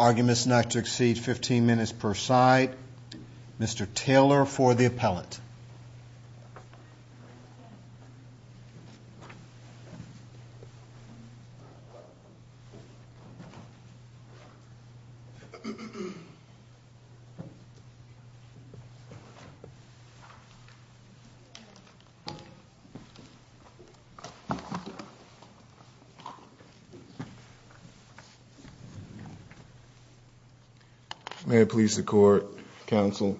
Arguments not to exceed 15 minutes per side. Mr. Taylor for the appellate. Please. May it please the court counsel.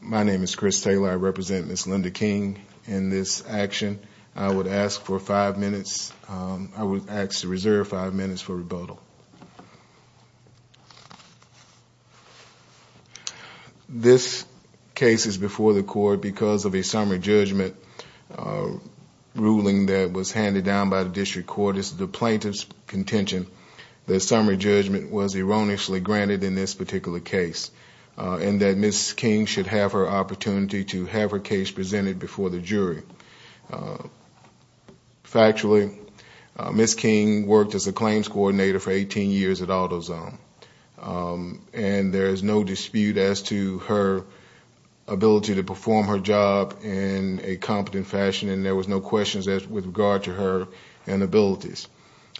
My name is Chris Taylor. I represent Miss Linda King in this action. I would ask for This case is before the court because of a summary judgment ruling that was handed down by the district court. It's the plaintiff's contention. The summary judgment was erroneously granted in this particular case. And that Miss King should have her opportunity to have her case presented before the jury. Factually, Miss King worked as a claims coordinator for 18 years at AutoZone. And there is no dispute as to her ability to perform her job in a competent fashion. And there was no questions with regard to her and abilities.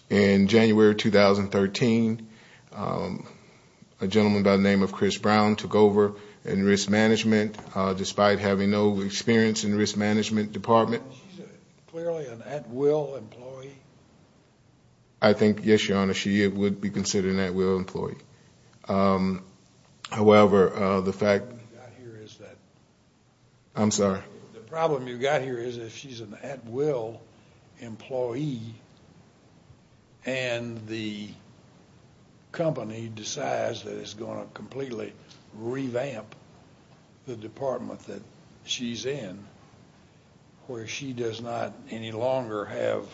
In January 2013, a gentleman by the name of Chris Brown took over and risk management. Despite having no experience in the risk management department. Clearly an at will employee. I think yes, your honor, she would be considered an at will employee. However, the fact is that I'm sorry. The problem you've got here is if she's an at will employee. And the company decides that it's going to completely revamp the department that she's in. Where she does not any longer have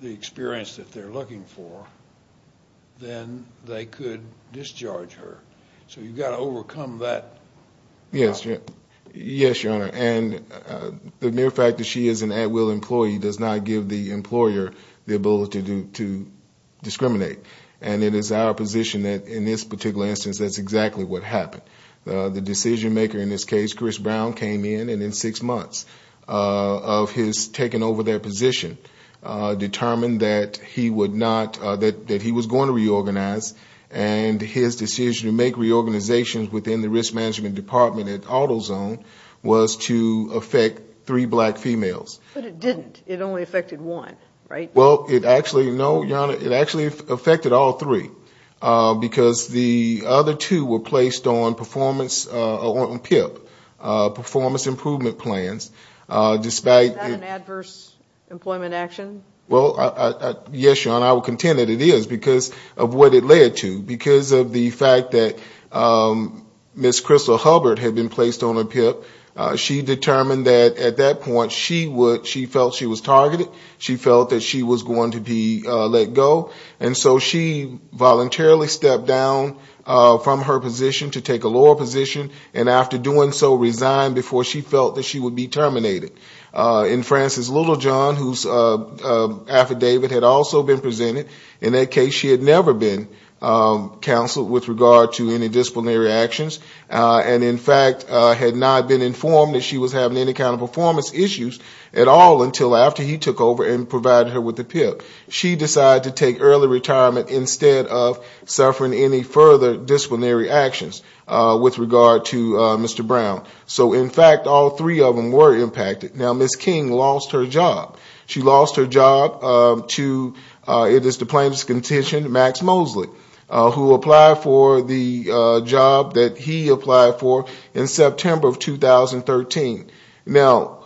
the experience that they're looking for. Then they could discharge her. So you've got to overcome that. Yes, your honor. And the mere fact that she is an at will employee does not give the employer the ability to discriminate. And it is our position that in this particular instance that's exactly what happened. The decision maker in this case, Chris Brown, came in. And in six months of his taking over their position. Determined that he would not. That he was going to reorganize. And his decision to make reorganizations within the risk management department at AutoZone. Was to affect three black females. But it didn't. It only affected one, right? Well, it actually, no, your honor. It actually affected all three. Because the other two were placed on performance, on PIP. Performance improvement plans. Despite. Is that an adverse employment action? Well, yes, your honor. And I will contend that it is. Because of what it led to. Because of the fact that Ms. Crystal Hubbard had been placed on a PIP. She determined that at that point she felt she was targeted. She felt that she was going to be let go. And so she voluntarily stepped down from her position to take a lower position. And after doing so resigned before she felt that she would be terminated. And Frances Littlejohn whose affidavit had also been presented. In that case she had never been counseled with regard to any disciplinary actions. And in fact had not been informed that she was having any kind of performance issues. At all until after he took over and provided her with the PIP. She decided to take early retirement instead of suffering any further disciplinary actions. With regard to Mr. Brown. So in fact all three of them were impacted. Now Ms. King lost her job. She lost her job to, it is the plaintiff's contention, Max Mosley. Who applied for the job that he applied for in September of 2013. Now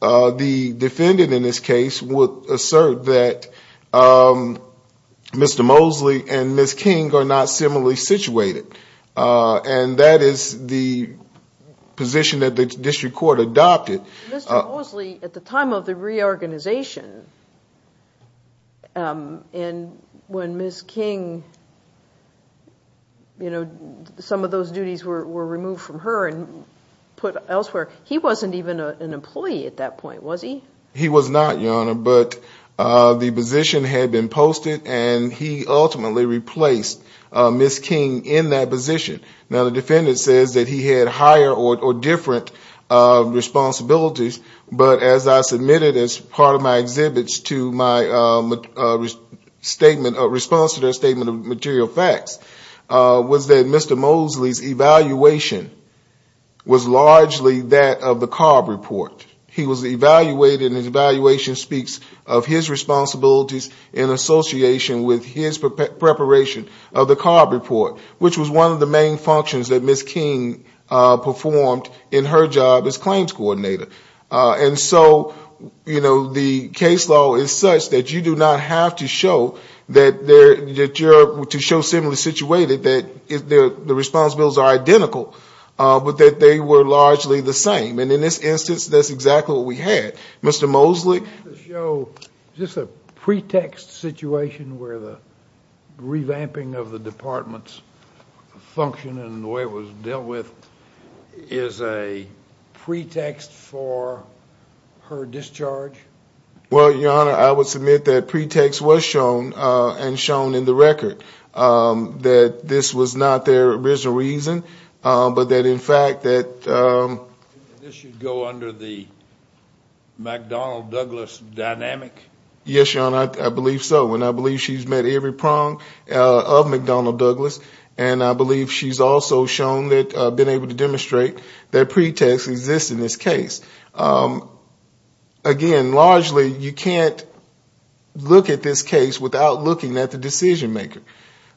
the defendant in this case would assert that Mr. Mosley and Ms. King are not similarly situated. And that is the position that the district court adopted. Mr. Mosley at the time of the reorganization. And when Ms. King, you know, some of those duties were removed from her and put elsewhere. He wasn't even an employee at that point was he? He was not your honor. But the position had been posted and he ultimately replaced Ms. King in that position. Now the defendant says that he had higher or different responsibilities. But as I submitted as part of my exhibits to my statement, response to their statement of material facts. Was that Mr. Mosley's evaluation was largely that of the CARB report. He was evaluated and his evaluation speaks of his responsibilities in association with his preparation of the CARB report. Which was one of the main functions that Ms. King performed in her job as claims coordinator. And so, you know, the case law is such that you do not have to show that you're, to show similarly situated. That the responsibilities are identical. But that they were largely the same. And in this instance, that's exactly what we had. Mr. Mosley. To show just a pretext situation where the revamping of the department's function and the way it was dealt with. Is a pretext for her discharge? Well, your honor, I would submit that pretext was shown and shown in the record. That this was not their original reason. But that in fact that. This should go under the McDonnell Douglas dynamic? Yes, your honor. I believe so. And I believe she's met every prong of McDonnell Douglas. And I believe she's also shown that, been able to demonstrate that pretext exists in this case. Again, largely you can't look at this case without looking at the decision maker.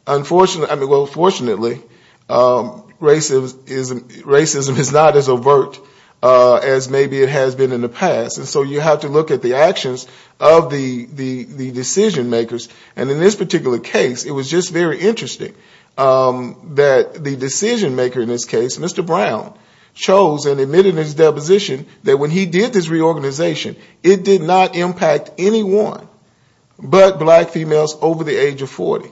Unfortunately, well fortunately, racism is not as overt as maybe it has been in the past. And so you have to look at the actions of the decision makers. And in this particular case, it was just very interesting that the decision maker in this case, Mr. Brown. Chose and admitted in his deposition that when he did this reorganization, it did not impact anyone but black females over the age of 40.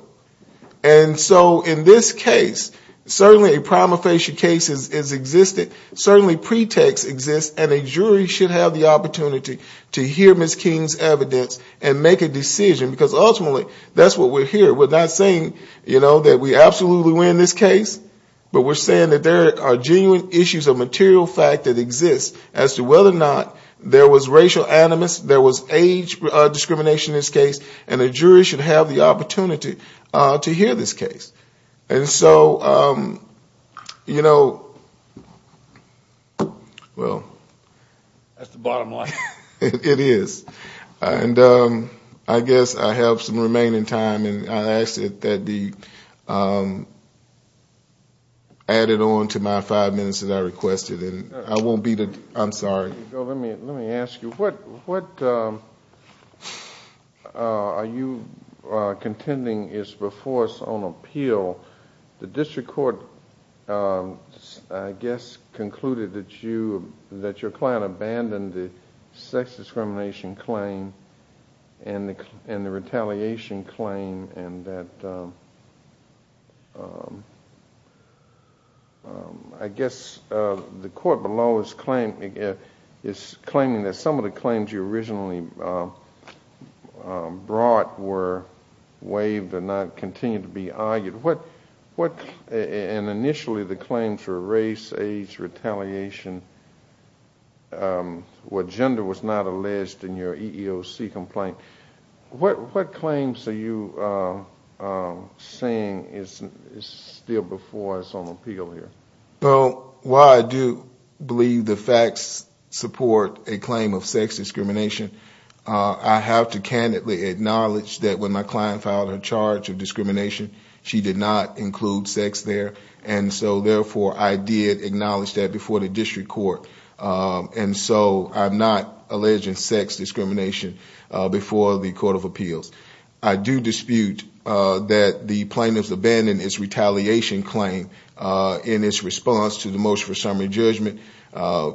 And so in this case, certainly a prima facie case has existed. Certainly pretext exists. And a jury should have the opportunity to hear Ms. King's evidence and make a decision. Because ultimately, that's what we're hearing. We're not saying, you know, that we absolutely win this case. But we're saying that there are genuine issues of material fact that exist as to whether or not there was racial animus. There was age discrimination in this case. And a jury should have the opportunity to hear this case. And so, you know, well. That's the bottom line. It is. And I guess I have some remaining time. And I asked that it be added on to my five minutes that I requested. And I won't be the, I'm sorry. Let me ask you. What are you contending is before us on appeal. The district court, I guess, concluded that you, that your client abandoned the sex discrimination claim and the retaliation claim. And that, I guess, the court below is claiming that some of the claims you originally brought were waived and not continued to be argued. What, and initially the claims were race, age, retaliation, where gender was not alleged in your EEOC complaint. What claims are you saying is still before us on appeal here? Well, while I do believe the facts support a claim of sex discrimination. I have to candidly acknowledge that when my client filed her charge of discrimination, she did not include sex there. And so, therefore, I did acknowledge that before the district court. And so, I'm not alleging sex discrimination before the court of appeals. I do dispute that the plaintiffs abandoned its retaliation claim in its response to the motion for summary judgment.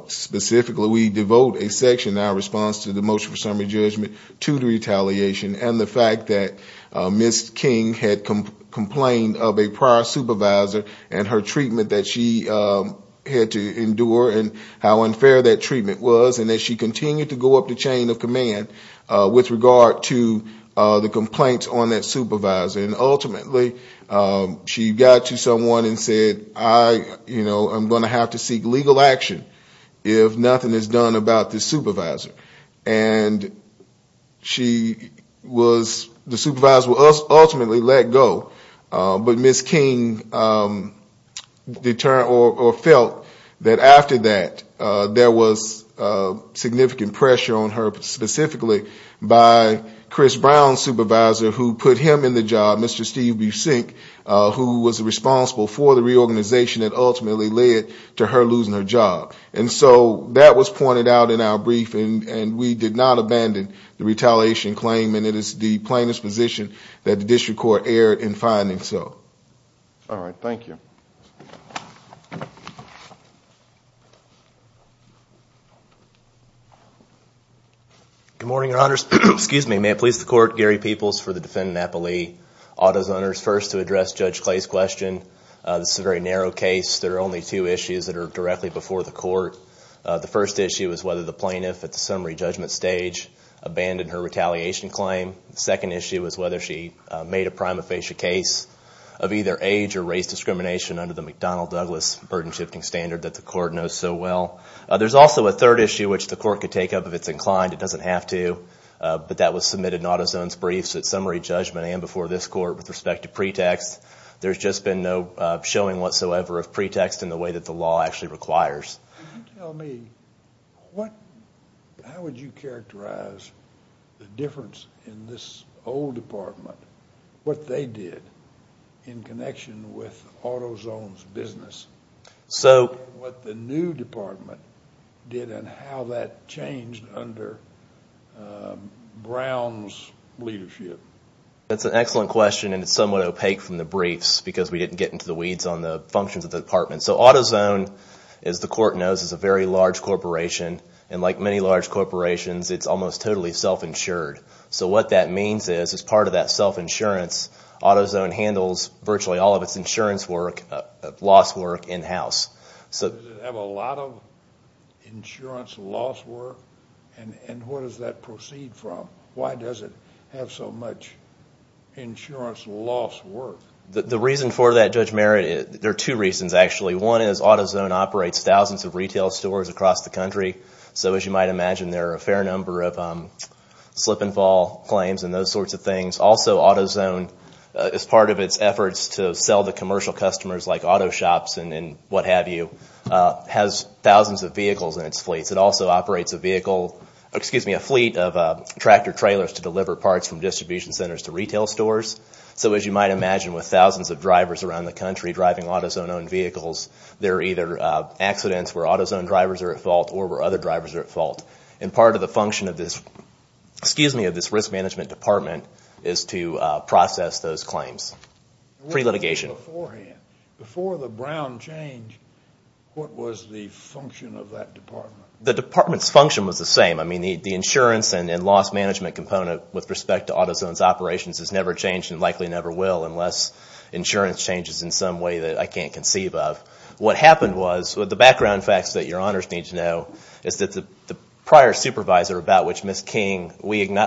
Specifically, we devote a section in our response to the motion for summary judgment to the retaliation. And the fact that Ms. King had complained of a prior supervisor and her treatment that she had to endure. And how unfair that treatment was. And that she continued to go up the chain of command with regard to the complaints on that supervisor. And ultimately, she got to someone and said, I, you know, I'm going to have to seek legal action if nothing is done about this supervisor. And she was, the supervisor was ultimately let go. But Ms. King felt that after that, there was significant pressure on her. Specifically, by Chris Brown's supervisor who put him in the job, Mr. Steve Buesink. Who was responsible for the reorganization that ultimately led to her losing her job. And so, that was pointed out in our briefing. And we did not abandon the retaliation claim. And it is the plaintiff's position that the district court erred in finding so. All right, thank you. Good morning, your honors. Excuse me, may it please the court. Gary Peoples for the defendant, Napa Lee. Autos owners first to address Judge Clay's question. This is a very narrow case. There are only two issues that are directly before the court. The first issue is whether the plaintiff at the summary judgment stage abandoned her retaliation claim. The second issue is whether she made a prima facie case of either age or race discrimination under the McDonnell-Douglas burden shifting standard that the court knows so well. There's also a third issue which the court could take up if it's inclined. It doesn't have to. But that was submitted in Autos Own's briefs at summary judgment and before this court with respect to pretext. There's just been no showing whatsoever of pretext in the way that the law actually requires. Can you tell me, how would you characterize the difference in this old department, what they did in connection with Autos Own's business? What the new department did and how that changed under Brown's leadership? That's an excellent question and it's somewhat opaque from the briefs because we didn't get into the weeds on the functions of the department. So Autos Own, as the court knows, is a very large corporation. And like many large corporations, it's almost totally self-insured. So what that means is as part of that self-insurance, Autos Own handles virtually all of its insurance work, loss work, in-house. Does it have a lot of insurance loss work? And where does that proceed from? Why does it have so much insurance loss work? The reason for that, Judge Merritt, there are two reasons actually. One is Autos Own operates thousands of retail stores across the country. So as you might imagine, there are a fair number of slip and fall claims and those sorts of things. Also, Autos Own, as part of its efforts to sell to commercial customers like auto shops and what have you, has thousands of vehicles in its fleets. It also operates a fleet of tractor trailers to deliver parts from distribution centers to retail stores. So as you might imagine, with thousands of drivers around the country driving Autos Own-owned vehicles, there are either accidents where Autos Own drivers are at fault or where other drivers are at fault. And part of the function of this risk management department is to process those claims pre-litigation. Before the Brown change, what was the function of that department? The department's function was the same. The insurance and loss management component with respect to Autos Own's operations has never changed and likely never will unless insurance changes in some way that I can't conceive of. What happened was, with the background facts that your honors need to know, is that the prior supervisor about which Ms. King, we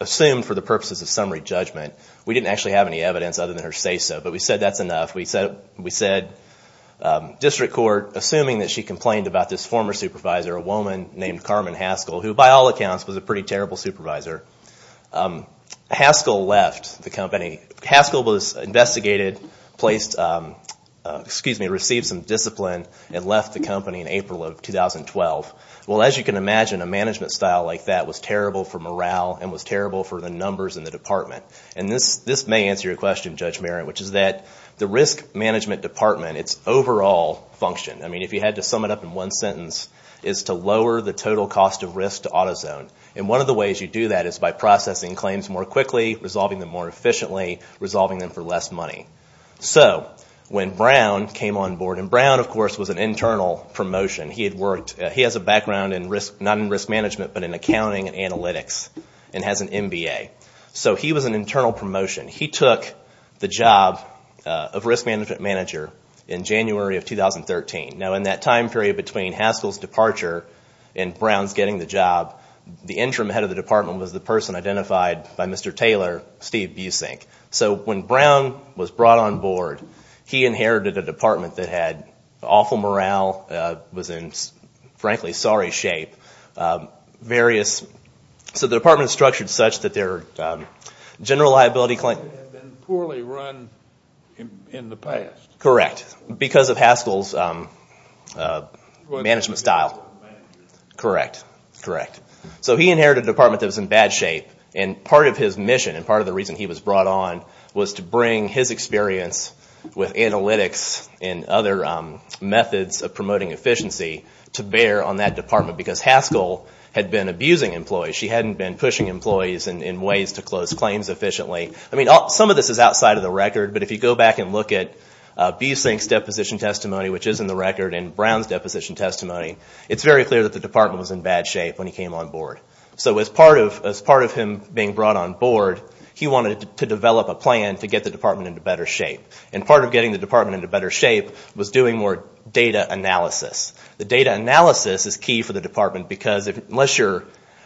assumed for the purposes of summary judgment, we didn't actually have any evidence other than her say-so, but we said that's enough. We said district court, assuming that she complained about this former supervisor, a woman named Carmen Haskell, who by all accounts was a pretty terrible supervisor. Haskell left the company. Haskell was investigated, received some discipline, and left the company in April of 2012. Well, as you can imagine, a management style like that was terrible for morale and was terrible for the numbers in the department. This may answer your question, Judge Merritt, which is that the risk management department, its overall function, if you had to sum it up in one sentence, is to lower the total cost of risk to Autos Own. One of the ways you do that is by processing claims more quickly, resolving them more efficiently, resolving them for less money. When Brown came on board, and Brown, of course, was an internal promotion. He has a background not in risk management but in accounting and analytics and has an MBA. So he was an internal promotion. He took the job of risk management manager in January of 2013. Now in that time period between Haskell's departure and Brown's getting the job, the interim head of the department was the person identified by Mr. Taylor, Steve Busink. So when Brown was brought on board, he inherited a department that had awful morale, was in, frankly, sorry shape. So the department was structured such that their general liability claim... It had been poorly run in the past. Correct, because of Haskell's management style. Correct, correct. So he inherited a department that was in bad shape, and part of his mission and part of the reason he was brought on was to bring his experience with analytics and other methods of promoting efficiency to bear on that department. Because Haskell had been abusing employees. She hadn't been pushing employees in ways to close claims efficiently. Some of this is outside of the record, but if you go back and look at Busink's deposition testimony, which is in the record, and Brown's deposition testimony, it's very clear that the department was in bad shape when he came on board. So as part of him being brought on board, he wanted to develop a plan to get the department into better shape. And part of getting the department into better shape was doing more data analysis. The data analysis is key for the department because unless you're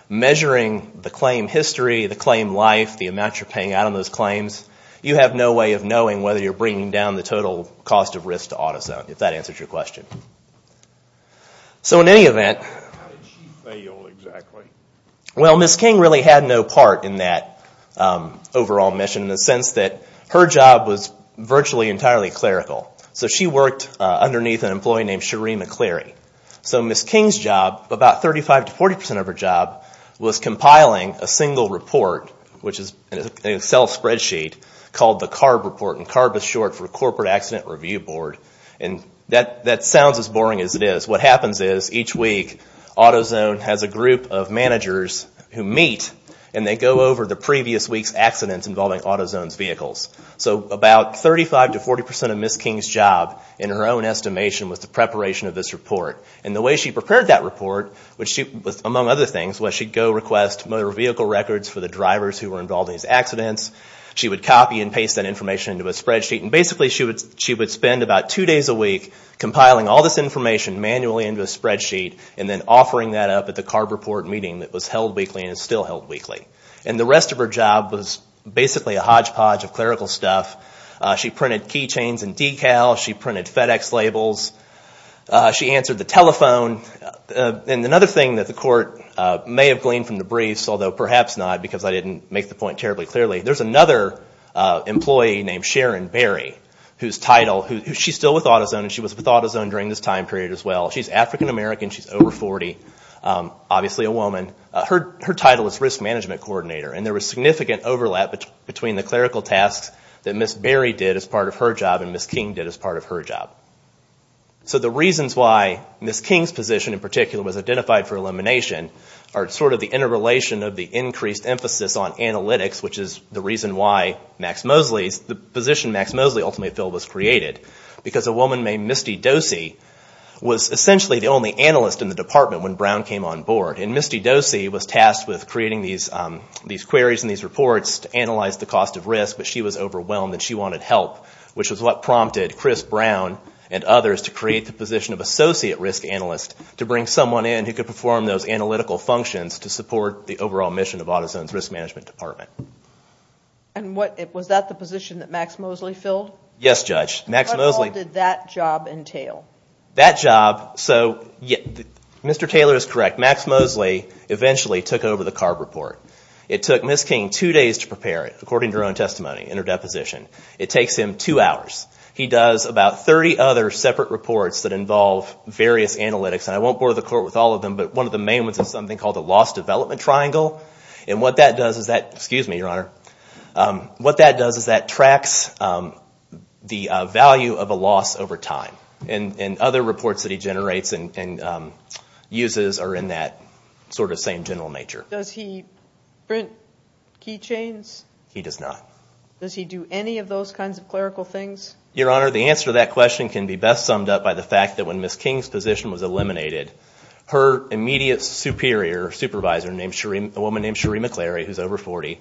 measuring the claim history, the claim life, the amount you're paying out on those claims, you have no way of knowing whether you're bringing down the total cost of risk to AutoZone, if that answers your question. So in any event... How did she fail exactly? Well, Ms. King really had no part in that overall mission in the sense that her job was virtually entirely clerical. So she worked underneath an employee named Sheree McCleary. So Ms. King's job, about 35% to 40% of her job, was compiling a single report, which is an Excel spreadsheet, called the CARB report. And CARB is short for Corporate Accident Review Board. And that sounds as boring as it is. What happens is each week, AutoZone has a group of managers who meet and they go over the previous week's accidents involving AutoZone's vehicles. So about 35% to 40% of Ms. King's job, in her own estimation, was the preparation of this report. And the way she prepared that report, among other things, was she'd go request motor vehicle records for the drivers who were involved in these accidents. She would copy and paste that information into a spreadsheet. And basically she would spend about two days a week compiling all this information manually into a spreadsheet and then offering that up at the CARB report meeting that was held weekly and is still held weekly. And the rest of her job was basically a hodgepodge of clerical stuff. She printed key chains and decals. She printed FedEx labels. She answered the telephone. And another thing that the court may have gleaned from the briefs, although perhaps not because I didn't make the point terribly clearly, there's another employee named Sharon Berry whose title, she's still with AutoZone and she was with AutoZone during this time period as well. She's African-American. She's over 40. Obviously a woman. Her title is Risk Management Coordinator. And there was significant overlap between the clerical tasks that Ms. Berry did as part of her job and Ms. King did as part of her job. So the reasons why Ms. King's position in particular was identified for elimination are sort of the interrelation of the increased emphasis on analytics, which is the reason why the position Max Mosley ultimately felt was created. Because a woman named Misty Dosey was essentially the only analyst in the department when Brown came on board. And Misty Dosey was tasked with creating these queries and these reports to analyze the cost of risk. But she was overwhelmed and she wanted help, which was what prompted Chris Brown and others to create the position of Associate Risk Analyst to bring someone in who could perform those analytical functions to support the overall mission of AutoZone's Risk Management Department. And was that the position that Max Mosley filled? Yes, Judge. What role did that job entail? That job, so Mr. Taylor is correct. Max Mosley eventually took over the CARB report. It took Ms. King two days to prepare it, according to her own testimony and her deposition. It takes him two hours. He does about 30 other separate reports that involve various analytics. And I won't bore the court with all of them, but one of the main ones is something called the Lost Development Triangle. And what that does is that, excuse me, Your Honor, what that does is that tracks the value of a loss over time. And other reports that he generates and uses are in that sort of same general nature. Does he print key chains? He does not. Does he do any of those kinds of clerical things? Your Honor, the answer to that question can be best summed up by the fact that when Ms. King's position was eliminated, her immediate superior, supervisor, a woman named Cherie McClary, who is over 40,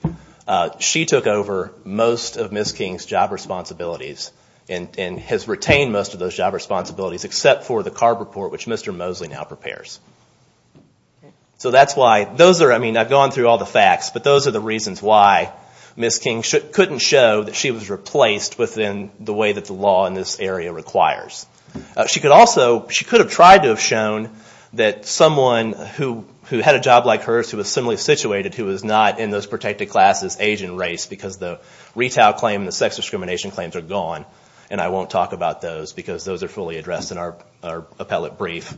she took over most of Ms. King's job responsibilities and has retained most of those job responsibilities except for the CARB report, which Mr. Mosley now prepares. So that's why those are, I mean, I've gone through all the facts, but those are the reasons why Ms. King couldn't show that she was replaced within the way that the law in this area requires. She could also, she could have tried to have shown that someone who had a job like hers, who was similarly situated, who was not in those protected classes, age and race, because the retail claim and the sex discrimination claims are gone, and I won't talk about those because those are fully addressed in our appellate brief.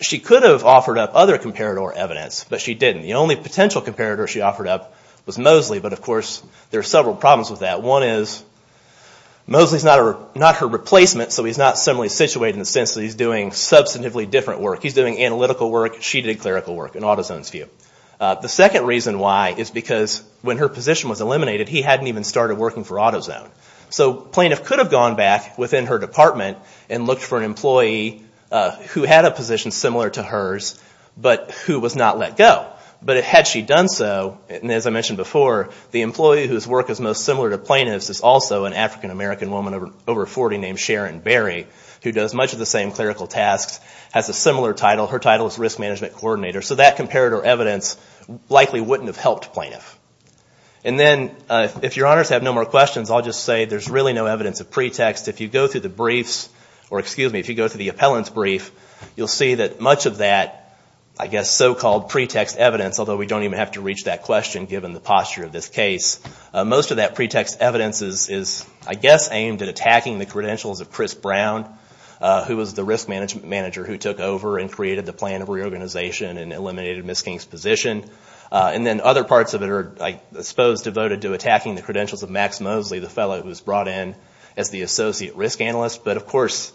She could have offered up other comparator evidence, but she didn't. The only potential comparator she offered up was Mosley, but of course there are several problems with that. One is Mosley's not her replacement, so he's not similarly situated in the sense that he's doing substantively different work. He's doing analytical work. She did clerical work in AutoZone's view. The second reason why is because when her position was eliminated, he hadn't even started working for AutoZone. So a plaintiff could have gone back within her department and looked for an employee who had a position similar to hers, but who was not let go. But had she done so, and as I mentioned before, the employee whose work is most similar to plaintiff's is also an African-American woman over 40 named Sharon Berry, who does much of the same clerical tasks, has a similar title. Her title is Risk Management Coordinator. So that comparator evidence likely wouldn't have helped plaintiff. And then if your honors have no more questions, I'll just say there's really no evidence of pretext. If you go through the briefs, or excuse me, if you go through the appellant's brief, you'll see that much of that, I guess, so-called pretext evidence, although we don't even have to reach that question given the posture of this case, most of that pretext evidence is, I guess, aimed at attacking the credentials of Chris Brown, who was the risk manager who took over and created the plan of reorganization and eliminated Ms. King's position. And then other parts of it are, I suppose, devoted to attacking the credentials of Max Mosley, the fellow who was brought in as the associate risk analyst. But, of course,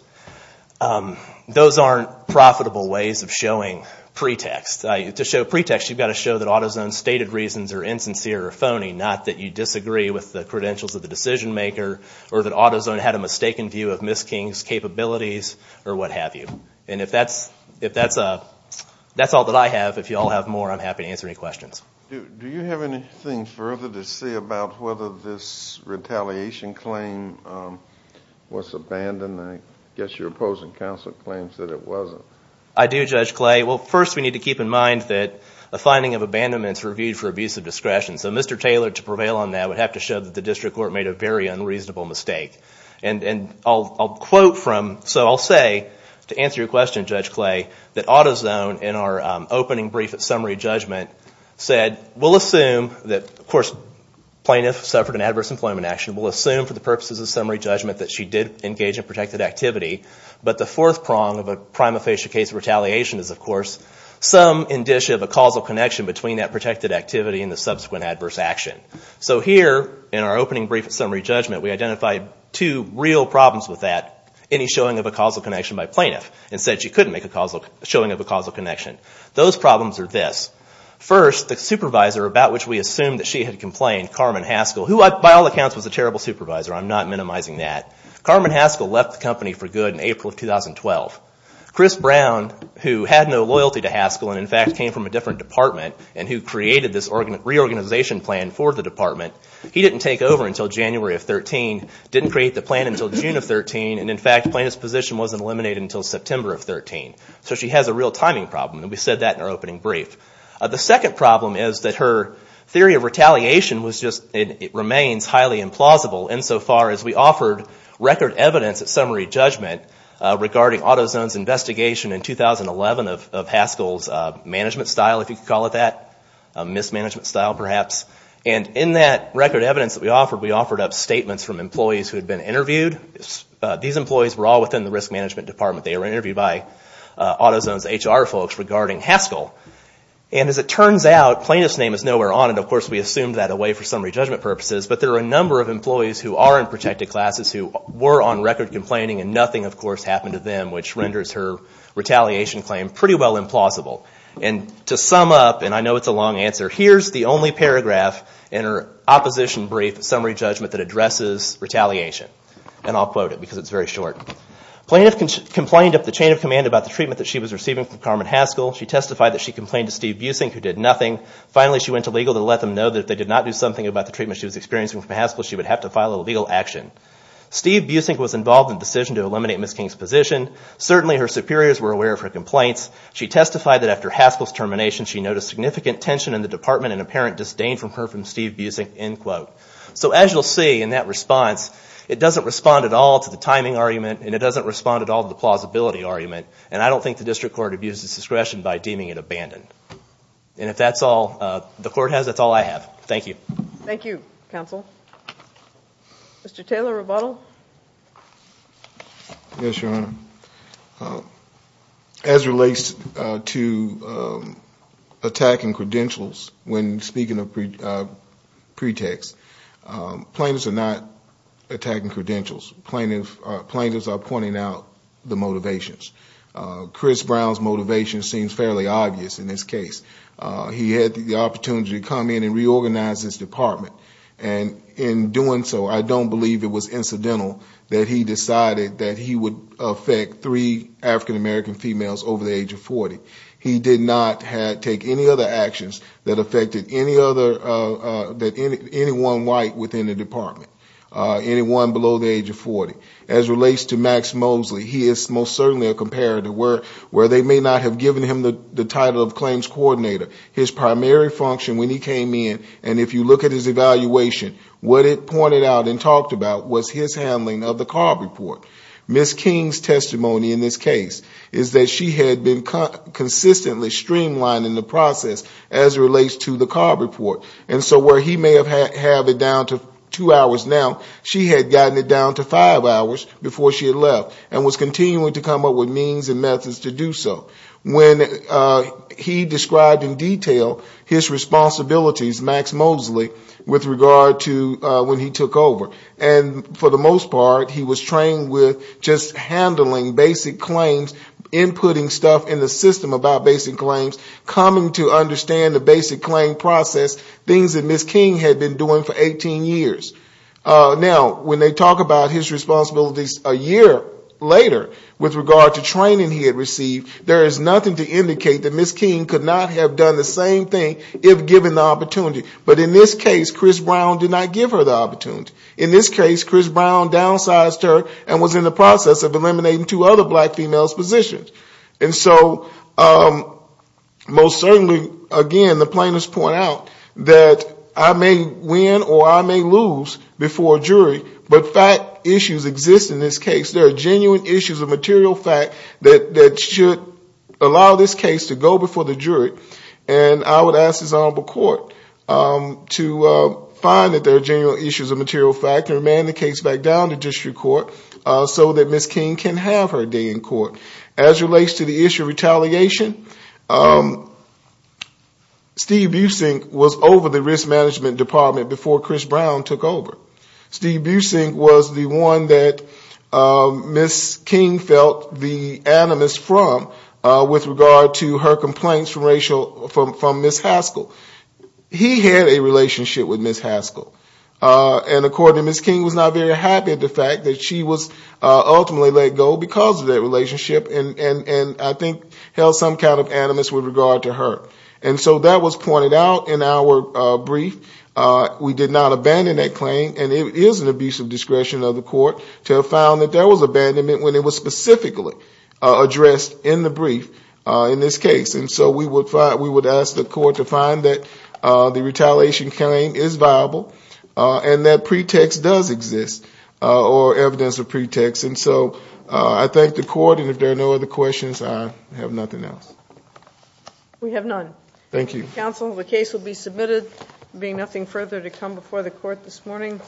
those aren't profitable ways of showing pretext. To show pretext, you've got to show that AutoZone's stated reasons are insincere or phony, not that you disagree with the credentials of the decision maker or that AutoZone had a mistaken view of Ms. King's capabilities or what have you. And if that's all that I have, if you all have more, I'm happy to answer any questions. Do you have anything further to say about whether this retaliation claim was abandoned? I guess your opposing counsel claims that it wasn't. I do, Judge Clay. Well, first we need to keep in mind that a finding of abandonment is reviewed for abusive discretion. So Mr. Taylor, to prevail on that, would have to show that the district court made a very unreasonable mistake. And I'll quote from, so I'll say, to answer your question, Judge Clay, that AutoZone in our opening brief at summary judgment said, we'll assume that, of course, plaintiff suffered an adverse employment action. We'll assume for the purposes of summary judgment that she did engage in protected activity. But the fourth prong of a prima facie case of retaliation is, of course, some indicia of a causal connection between that protected activity and the subsequent adverse action. So here, in our opening brief at summary judgment, we identified two real problems with that, any showing of a causal connection by plaintiff, and said she couldn't make a showing of a causal connection. Those problems are this. First, the supervisor about which we assume that she had complained, Carmen Haskell, who by all accounts was a terrible supervisor, I'm not minimizing that. Carmen Haskell left the company for good in April of 2012. Chris Brown, who had no loyalty to Haskell, and in fact came from a different department, and who created this reorganization plan for the department, he didn't take over until January of 2013, didn't create the plan until June of 2013, and in fact plaintiff's position wasn't eliminated until September of 2013. So she has a real timing problem, and we said that in our opening brief. The second problem is that her theory of retaliation was just, it remains highly implausible, insofar as we offered record evidence at summary judgment, regarding AutoZone's investigation in 2011 of Haskell's management style, if you could call it that, mismanagement style perhaps. And in that record evidence that we offered, we offered up statements from employees who had been interviewed. These employees were all within the risk management department. They were interviewed by AutoZone's HR folks regarding Haskell. And as it turns out, plaintiff's name is nowhere on it, of course we assumed that away for summary judgment purposes, but there are a number of employees who are in protected classes who were on record complaining, and nothing, of course, happened to them, which renders her retaliation claim pretty well implausible. And to sum up, and I know it's a long answer, here's the only paragraph in her opposition brief summary judgment that addresses retaliation. And I'll quote it, because it's very short. Plaintiff complained of the chain of command about the treatment that she was receiving from Carmen Haskell. She testified that she complained to Steve Busing, who did nothing. Finally, she went to legal to let them know that if they did not do something about the treatment she was experiencing from Haskell, she would have to file a legal action. Steve Busing was involved in the decision to eliminate Ms. King's position. Certainly, her superiors were aware of her complaints. She testified that after Haskell's termination, she noticed significant tension in the department and apparent disdain from her from Steve Busing." So as you'll see in that response, it doesn't respond at all to the timing argument, and it doesn't respond at all to the plausibility argument. And I don't think the district court abuses discretion by deeming it abandoned. And if that's all the court has, that's all I have. Thank you. Thank you, counsel. Mr. Taylor-Rebuttal? Yes, Your Honor. As relates to attacking credentials, when speaking of pretext, plaintiffs are not attacking credentials. Plaintiffs are pointing out the motivations. Chris Brown's motivation seems fairly obvious in this case. He had the opportunity to come in and reorganize his department. And in doing so, I don't believe it was incidental that he decided that he would affect three African-American females over the age of 40. He did not take any other actions that affected anyone white within the department, anyone below the age of 40. As relates to Max Mosley, he is most certainly a comparator. Where they may not have given him the title of claims coordinator, his primary function when he came in, and if you look at his evaluation, what it pointed out and talked about was his handling of the CARB report. Ms. King's testimony in this case is that she had been consistently streamlining the process as relates to the CARB report. And so where he may have had it down to two hours now, she had gotten it down to five hours before she had left, and was continuing to come up with means and methods to do so. When he described in detail his responsibilities, Max Mosley, with regard to when he took over. And for the most part, he was trained with just handling basic claims, inputting stuff in the system about basic claims, coming to understand the basic claim process, things that Ms. King had been doing for 18 years. Now, when they talk about his responsibilities a year later, with regard to training he had received, there is nothing to indicate that Ms. King could not have done the same thing if given the opportunity. But in this case, Chris Brown did not give her the opportunity. In this case, Chris Brown downsized her and was in the process of eliminating two other black females' positions. And so most certainly, again, the plaintiffs point out that I may win or I may lose before a jury, but fact issues exist in this case. There are genuine issues of material fact that should allow this case to go before the jury. And I would ask his Honorable Court to find that there are genuine issues of material fact and remand the case back down to district court so that Ms. King can have her day in court. As it relates to the issue of retaliation, Steve Busink was over the risk management department before Chris Brown took over. Steve Busink was the one that Ms. King felt the animus from with regard to her complaints from Ms. Haskell. He had a relationship with Ms. Haskell. And according, Ms. King was not very happy at the fact that she was ultimately let go because of that relationship and I think held some kind of animus with regard to her. And so that was pointed out in our brief. We did not abandon that claim. And it is an abuse of discretion of the court to have found that there was abandonment when it was specifically addressed in the brief in this case. And so we would ask the court to find that the retaliation claim is viable and that pretext does exist or evidence of pretext. And so I thank the court. And if there are no other questions, I have nothing else. We have none. Thank you. Counsel, the case will be submitted. There will be nothing further to come before the court this morning.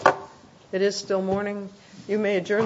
It is still morning. You may adjourn the hearing.